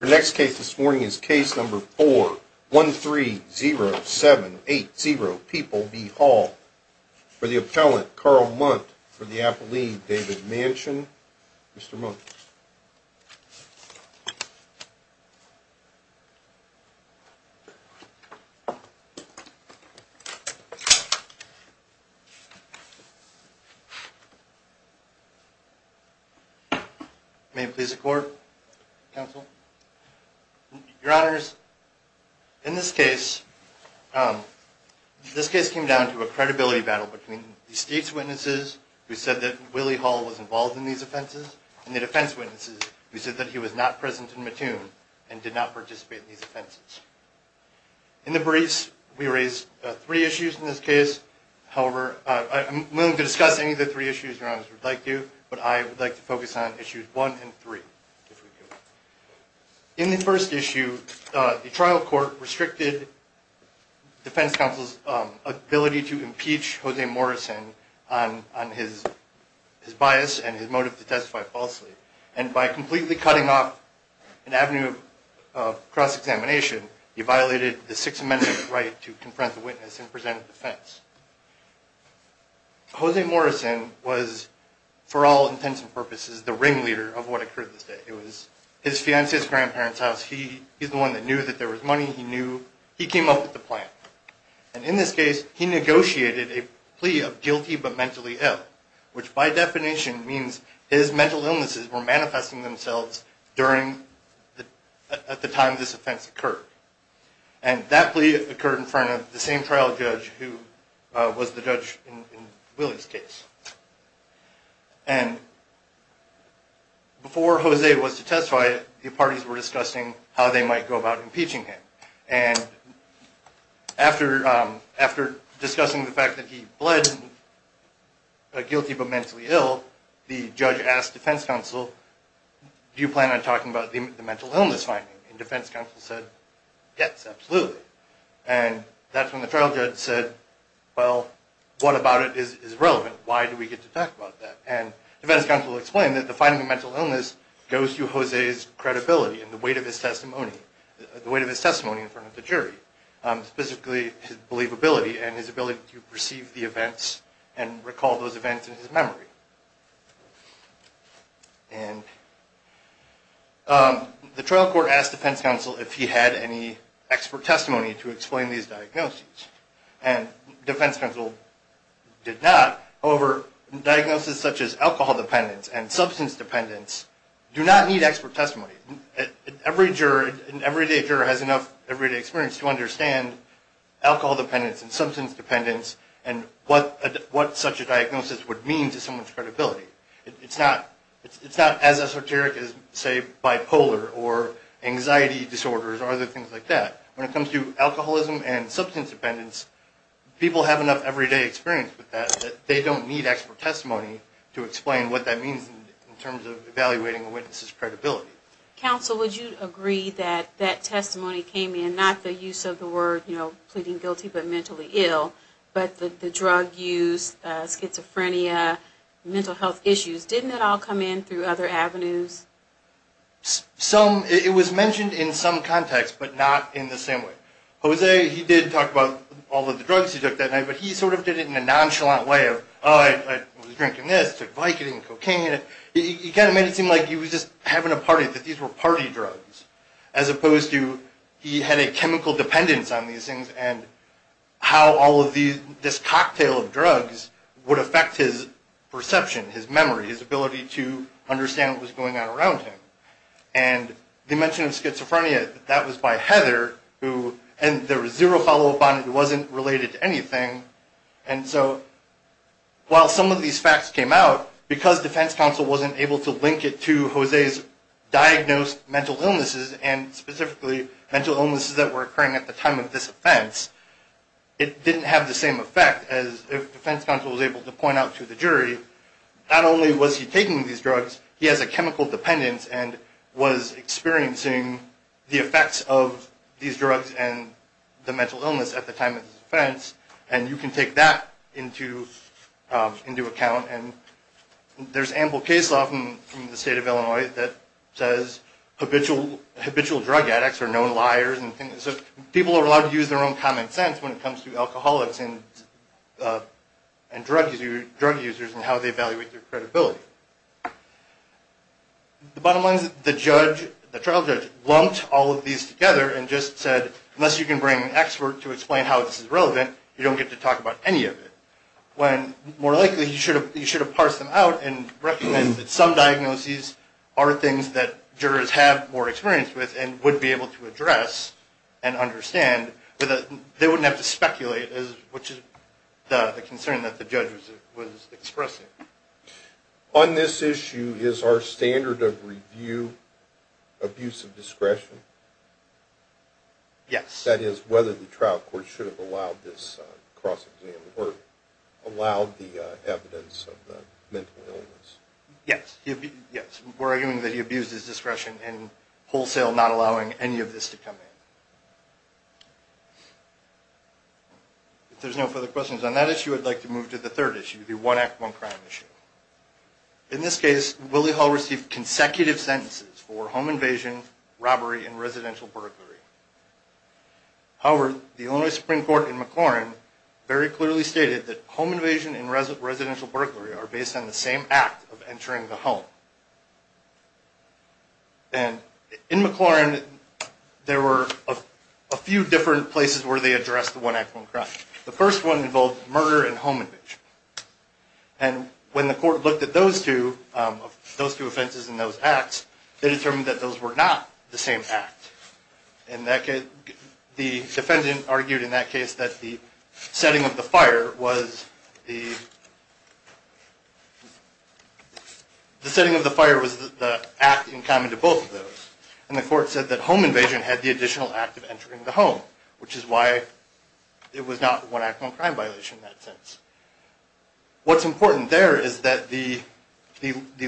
The next case this morning is case number 4130780 People v. Hall for the appellant, Carl Munt, for the appellee, David Manchin. Mr. Munt. May it please the court, counsel? Your honors, in this case, this case came down to a credibility battle between the state's defense witnesses who said that he was not present in Mattoon and did not participate in these offenses. In the briefs, we raised three issues in this case. However, I'm willing to discuss any of the three issues, your honors, if you would like to, but I would like to focus on issues one and three, if we could. In the first issue, the trial court restricted the defense counsel's ability to impeach Jose Morrison on his bias and his motive to testify falsely, and by completely cutting off an avenue of cross-examination, he violated the Sixth Amendment's right to confront the witness and present a defense. Jose Morrison was, for all intents and purposes, the ringleader of what occurred this day. It was his fiancée's grandparents' house. He's the one that knew that there was money. He knew. He came up with the plan. And in this case, he negotiated a plea of guilty but mentally ill, which by definition means his mental illnesses were manifesting themselves at the time this offense occurred. And that plea occurred in front of the same trial judge who was the judge in Willie's case. And before Jose was to testify, the parties were discussing how they might go about impeaching him. And after discussing the fact that he pled guilty but mentally ill, the judge asked defense counsel, do you plan on talking about the mental illness finding? And defense counsel said, yes, absolutely. And that's when the trial judge said, well, what about it is relevant? Why do we get to talk about that? And defense counsel explained that the finding of mental illness goes to Jose's credibility and the weight of his testimony in front of the jury, specifically his believability and his ability to perceive the events and recall those events in his memory. The trial court asked defense counsel if he had any expert testimony to explain these diagnoses. And defense counsel did not. However, diagnoses such as alcohol dependence and substance dependence do not need expert testimony. Every jury and every day juror has enough everyday experience to understand alcohol dependence and substance dependence and what such a diagnosis would mean to someone's credibility. It's not as esoteric as, say, bipolar or anxiety disorders or other things like that. When it comes to alcoholism and substance dependence, people have enough everyday experience with that. They don't need expert testimony to explain what that means in terms of evaluating a witness's credibility. Counsel, would you agree that that testimony came in, not the use of the word, you know, pleading guilty but mentally ill, but the drug use, schizophrenia, mental health issues, didn't it all come in through other avenues? Some, it was mentioned in some context but not in the same way. Jose, he did talk about all of the drugs he took that night, but he sort of did it in a nonchalant way of, oh, I was drinking this, took Vicodin, cocaine. He kind of made it seem like he was just having a party, that these were party drugs, as opposed to he had a chemical dependence on these things and how all of these, this cocktail of drugs would affect his perception, his memory, his ability to understand what was going on around him. And they mentioned in schizophrenia that that was by Heather who, and there was zero follow-up on it, it wasn't related to anything. And so, while some of these facts came out, because defense counsel wasn't able to link it to Jose's diagnosed mental illnesses and specifically mental illnesses that were occurring at the time of this offense, it didn't have the same effect as if defense counsel was able to point out to the jury, not only was he taking these drugs, he has a chemical dependence and was experiencing the effects of these drugs and the mental illness at the time of his offense, and you can take that into account. And there's ample case law from the state of Illinois that says habitual drug addicts are known liars. People are allowed to use their own common sense when it comes to alcoholics and drug users and how they evaluate their credibility. The bottom line is that the trial judge lumped all of these together and just said, unless you can bring an expert to explain how this is relevant, you don't get to talk about any of it. When, more likely, you should have parsed them out and recognized that some diagnoses are things that jurors have more experience with and would be able to address and understand, they wouldn't have to speculate, which is the concern that the judge was expressing. On this issue, is our standard of review abuse of discretion? Yes. That is, whether the trial court should have allowed this cross-examination or allowed the evidence of the mental illness. Yes. Yes. We're arguing that he abused his discretion and wholesale not allowing any of this to come in. If there's no further questions on that issue, I'd like to move to the third issue, the one act, one crime issue. In this case, Willie Hall received consecutive sentences for home invasion, robbery, and residential burglary. However, the Illinois Supreme Court in McClellan very clearly stated that home invasion and residential burglary are based on the same act of entering the home. In McClellan, there were a few different places where they addressed the one act, one crime. The first one involved murder and home invasion. When the court looked at those two offenses and those acts, they determined that those were not the same act. The defendant argued in that case that the setting of the fire was the act in common to both of those. And the court said that home invasion had the additional act of entering the home, which is why it was not the one act, one crime violation in that sense. What's important there is that the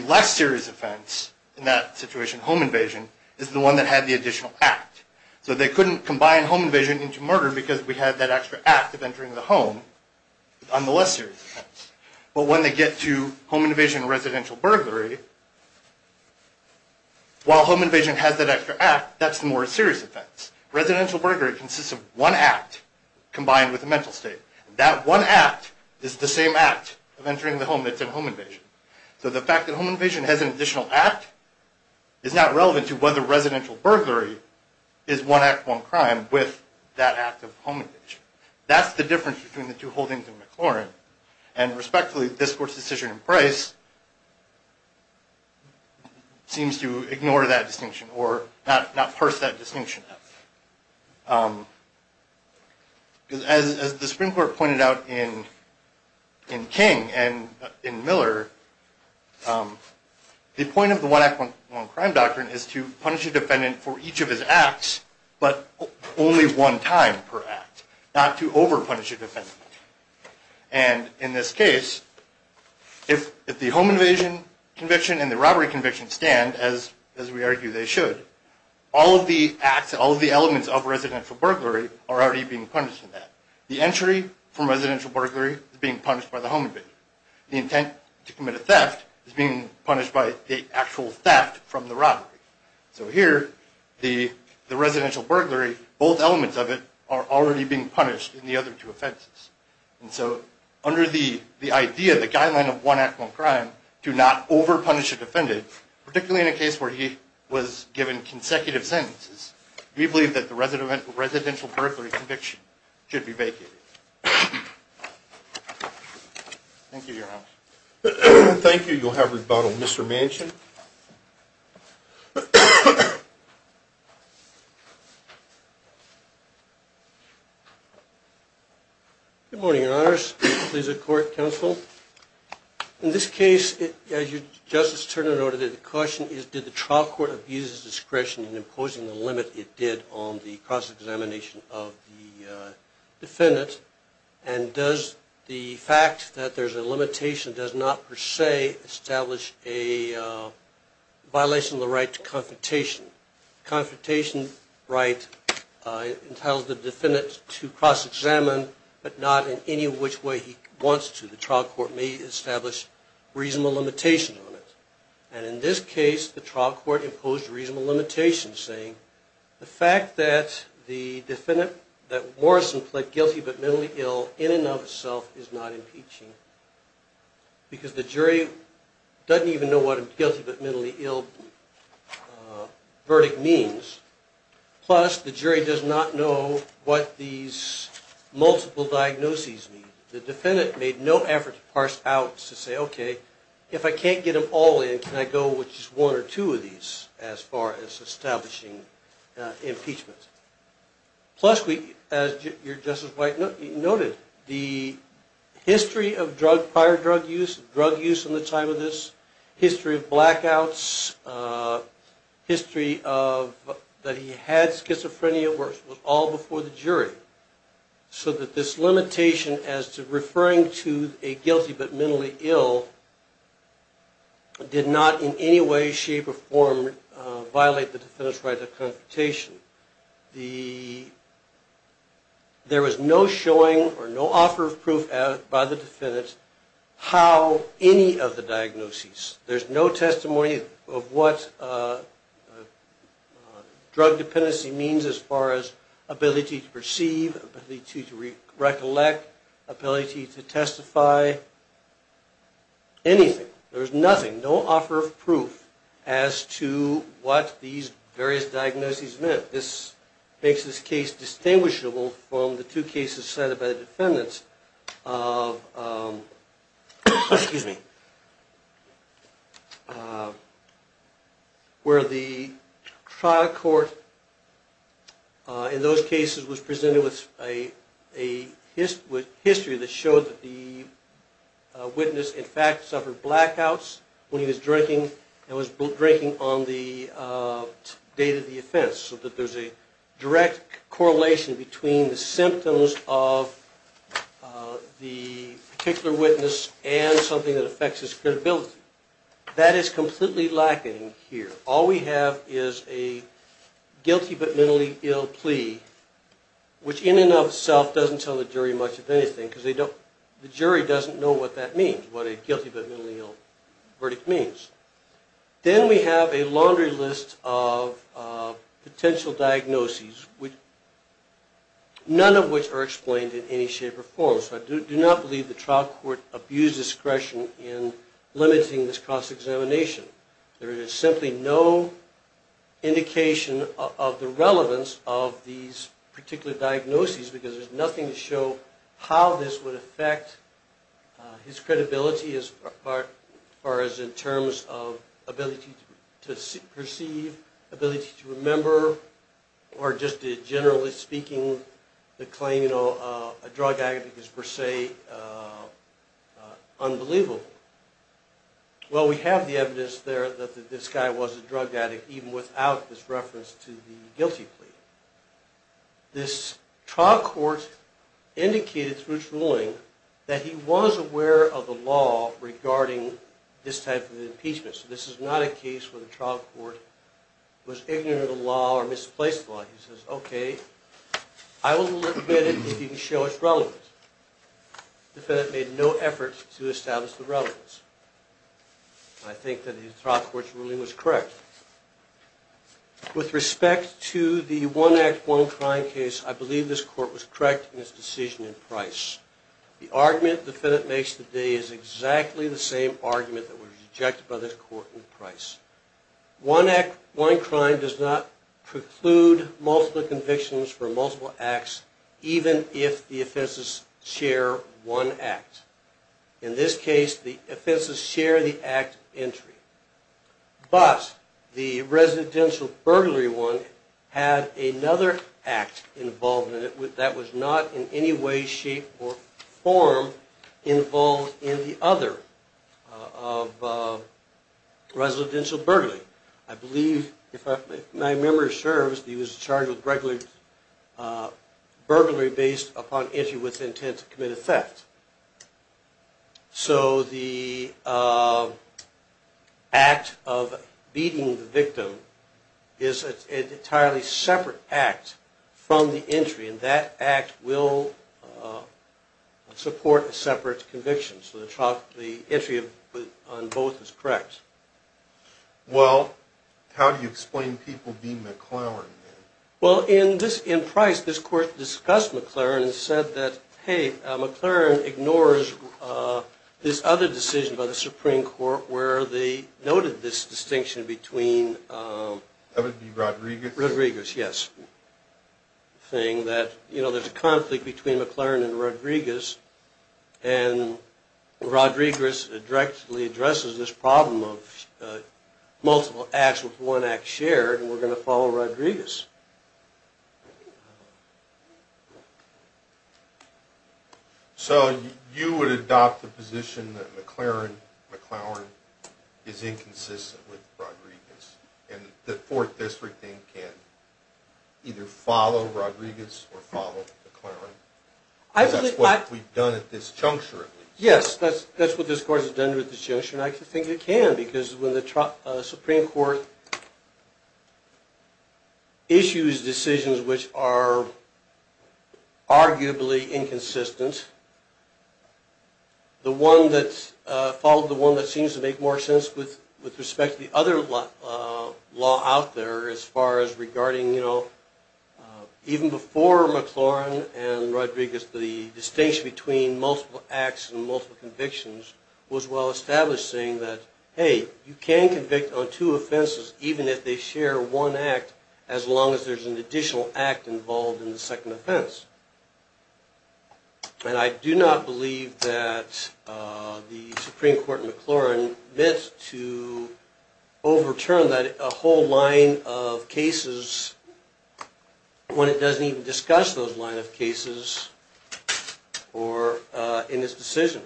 last serious offense in that situation, home invasion, is the one that had the additional act. So they couldn't combine home invasion into murder because we had that extra act of entering the home on the less serious offense. But when they get to home invasion and residential burglary, while home invasion has that extra act, that's the more serious offense. Residential burglary consists of one act combined with a mental state. That one act is the same act of entering the home that's in home invasion. So the fact that home invasion has an additional act is not relevant to whether residential burglary is one act, one crime with that act of home invasion. That's the difference between the two holdings of McLaurin. And respectfully, this court's decision in Price seems to ignore that distinction or not parse that distinction. As the Supreme Court pointed out in King and in Miller, the point of the one act, one crime doctrine is to punish a defendant for each of his acts, but only one time per act, not to over-punish a defendant. And in this case, if the home invasion conviction and the robbery conviction stand, as we argue they should, all of the acts, all of the elements of residential burglary are already being punished in that. The entry from residential burglary is being punished by the home invasion. The intent to commit a theft is being punished by the actual theft from the robbery. So here, the residential burglary, both elements of it are already being punished in the other two offenses. And so under the idea, the guideline of one act, one crime, to not over-punish a defendant, particularly in a case where he was given consecutive sentences, we believe that the residential burglary conviction should be vacated. Thank you, Your Honor. Thank you. You'll have rebuttal. Mr. Manchin. Good morning, Your Honors. Please accord counsel. In this case, as Justice Turner noted, the question is, did the trial court abuse its discretion in imposing the limit it did on the cross-examination of the defendant? And does the fact that there's a limitation does not per se establish a violation of the right to confrontation? The confrontation right entitles the defendant to cross-examine, but not in any which way he wants to. The trial court may establish reasonable limitations on it. And in this case, the trial court imposed reasonable limitations, saying, the fact that the defendant, that Morrison pled guilty but mentally ill in and of itself is not impeaching, because the jury doesn't even know what a guilty but mentally ill verdict means, plus the jury does not know what these multiple diagnoses mean. The defendant made no effort to parse out, to say, okay, if I can't get them all in, can I go with just one or two of these as far as establishing impeachment? Plus, as Justice White noted, the history of prior drug use, drug use in the time of this, history of blackouts, history that he had schizophrenia, was all before the jury. So that this limitation as to referring to a guilty but mentally ill did not in any way, shape, or form violate the defendant's right to confrontation. There was no showing or no offer of proof by the defendant how any of the diagnoses, there's no testimony of what drug dependency means as far as ability to perceive, ability to recollect, ability to testify, anything. There's nothing, no offer of proof as to what these various diagnoses meant. This makes this case distinguishable from the two cases cited by the defendants of, excuse me, where the trial court in those cases was presented with a history that showed that the witness, in fact, suffered blackouts when he was drinking and was drinking on the date of the offense. So that there's a direct correlation between the symptoms of the particular witness and something that affects his credibility. That is completely lacking here. All we have is a guilty but mentally ill plea, which in and of itself doesn't tell the jury much of anything because the jury doesn't know what that means, what a guilty but mentally ill verdict means. Then we have a laundry list of potential diagnoses, none of which are explained in any shape or form. So I do not believe the trial court abused discretion in limiting this cross-examination. There is simply no indication of the relevance of these particular diagnoses because there's nothing to show how this would affect his credibility as far as in terms of ability to perceive, ability to remember, or just generally speaking the claim, you know, a drug addict is per se unbelievable. Well, we have the evidence there that this guy was a drug addict even without this reference to the guilty plea. This trial court indicated through its ruling that he was aware of the law regarding this type of impeachment. So this is not a case where the trial court was ignorant of the law or misplaced the law. He says, okay, I will admit it if you can show its relevance. The defendant made no effort to establish the relevance. I think that the trial court's ruling was correct. With respect to the one act, one crime case, I believe this court was correct in its decision in Price. The argument the defendant makes today is exactly the same argument that was rejected by this court in Price. One act, one crime does not preclude multiple convictions for multiple acts even if the offenses share one act. In this case, the offenses share the act entry. But the residential burglary one had another act involved in it that was not in any way, shape, or form involved in the other of residential burglary. I believe if my memory serves, he was charged with burglary based upon entry with intent to commit a theft. So the act of beating the victim is an entirely separate act from the entry, and that act will support a separate conviction. So the entry on both is correct. Well, how do you explain people being McLaren? Well, in Price, this court discussed McLaren and said that, hey, McLaren ignores this other decision by the Supreme Court where they noted this distinction between That would be Rodriguez? Rodriguez, yes. Saying that, you know, there's a conflict between McLaren and Rodriguez, and Rodriguez directly addresses this problem of multiple acts with one act shared, and we're going to follow Rodriguez. So you would adopt the position that McLaren is inconsistent with Rodriguez, and the Fourth District then can either follow Rodriguez or follow McLaren? That's what we've done at this juncture, at least. Yes, that's what this court has done at this juncture, and I think it can, because when the Supreme Court issues decisions which are arguably inconsistent, the one that seems to make more sense with respect to the other law out there as far as regarding, you know, even before McLaren and Rodriguez, the distinction between multiple acts and multiple convictions was well established saying that, hey, you can convict on two offenses even if they share one act, as long as there's an additional act involved in the second offense. And I do not believe that the Supreme Court in McLaren meant to overturn a whole line of cases when it doesn't even discuss those line of cases in its decision.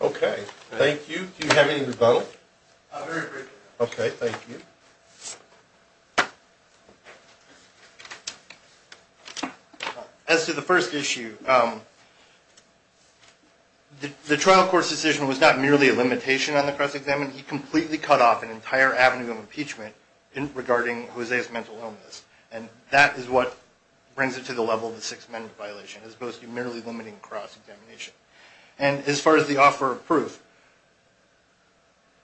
Okay, thank you. Do you have any rebuttal? Very briefly. Okay, thank you. As to the first issue, the trial court's decision was not merely a limitation on the cross-examination. He completely cut off an entire avenue of impeachment regarding Jose's mental illness. And that is what brings it to the level of the Sixth Amendment violation as opposed to merely limiting cross-examination. And as far as the offer of proof,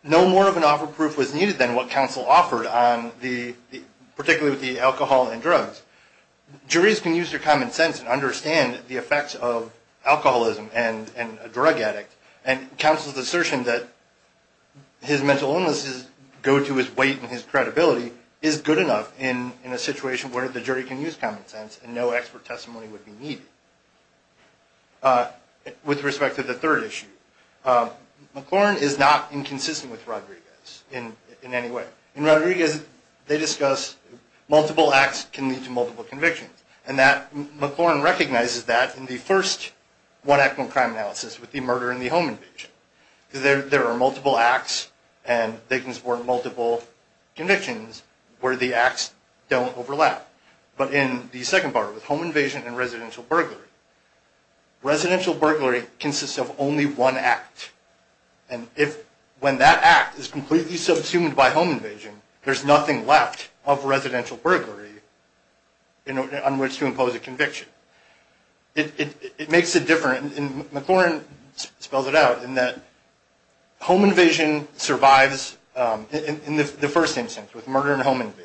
no more of an offer of proof was needed than what counsel offered on the, particularly with the alcohol and drugs. Juries can use their common sense and understand the effects of alcoholism and a drug addict. And counsel's assertion that his mental illnesses go to his weight and his credibility is good enough in a situation where the jury can use common sense and no expert testimony would be needed. With respect to the third issue, McLaren is not inconsistent with Rodriguez in any way. In Rodriguez, they discuss multiple acts can lead to multiple convictions. And McLaren recognizes that in the first one-act non-crime analysis with the murder in the home invasion. There are multiple acts and they can support multiple convictions where the acts don't overlap. But in the second part with home invasion and residential burglary, residential burglary consists of only one act. And when that act is completely subsumed by home invasion, there's nothing left of residential burglary on which to impose a conviction. It makes it different, and McLaren spells it out, in that home invasion survives in the first instance with murder and home invasion.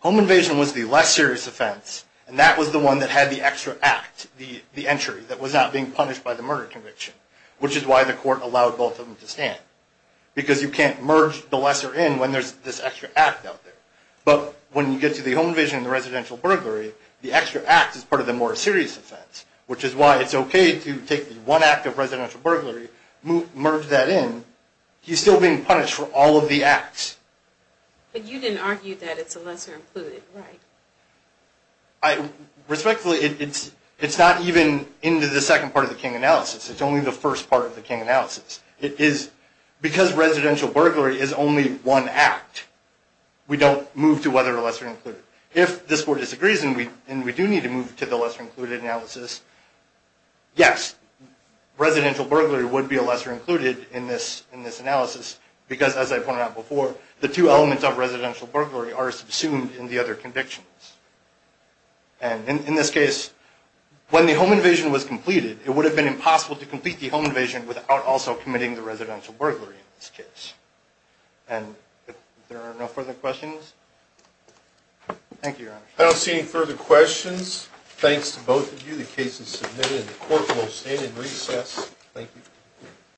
Home invasion was the less serious offense, and that was the one that had the extra act, the entry, that was not being punished by the murder conviction, which is why the court allowed both of them to stand. Because you can't merge the lesser in when there's this extra act out there. But when you get to the home invasion and the residential burglary, the extra act is part of the more serious offense, which is why it's okay to take the one act of residential burglary, merge that in. He's still being punished for all of the acts. But you didn't argue that it's a lesser included, right? Respectfully, it's not even into the second part of the King analysis. It's only the first part of the King analysis. Because residential burglary is only one act, we don't move to whether or lesser included. If this court disagrees and we do need to move to the lesser included analysis, yes, residential burglary would be a lesser included in this analysis, because as I pointed out before, the two elements of residential burglary are subsumed in the other convictions. And in this case, when the home invasion was completed, it would have been impossible to complete the home invasion without also committing the residential burglary in this case. And if there are no further questions? Thank you, Your Honor. I don't see any further questions. Thanks to both of you. The case is submitted and the court will stand in recess. Thank you.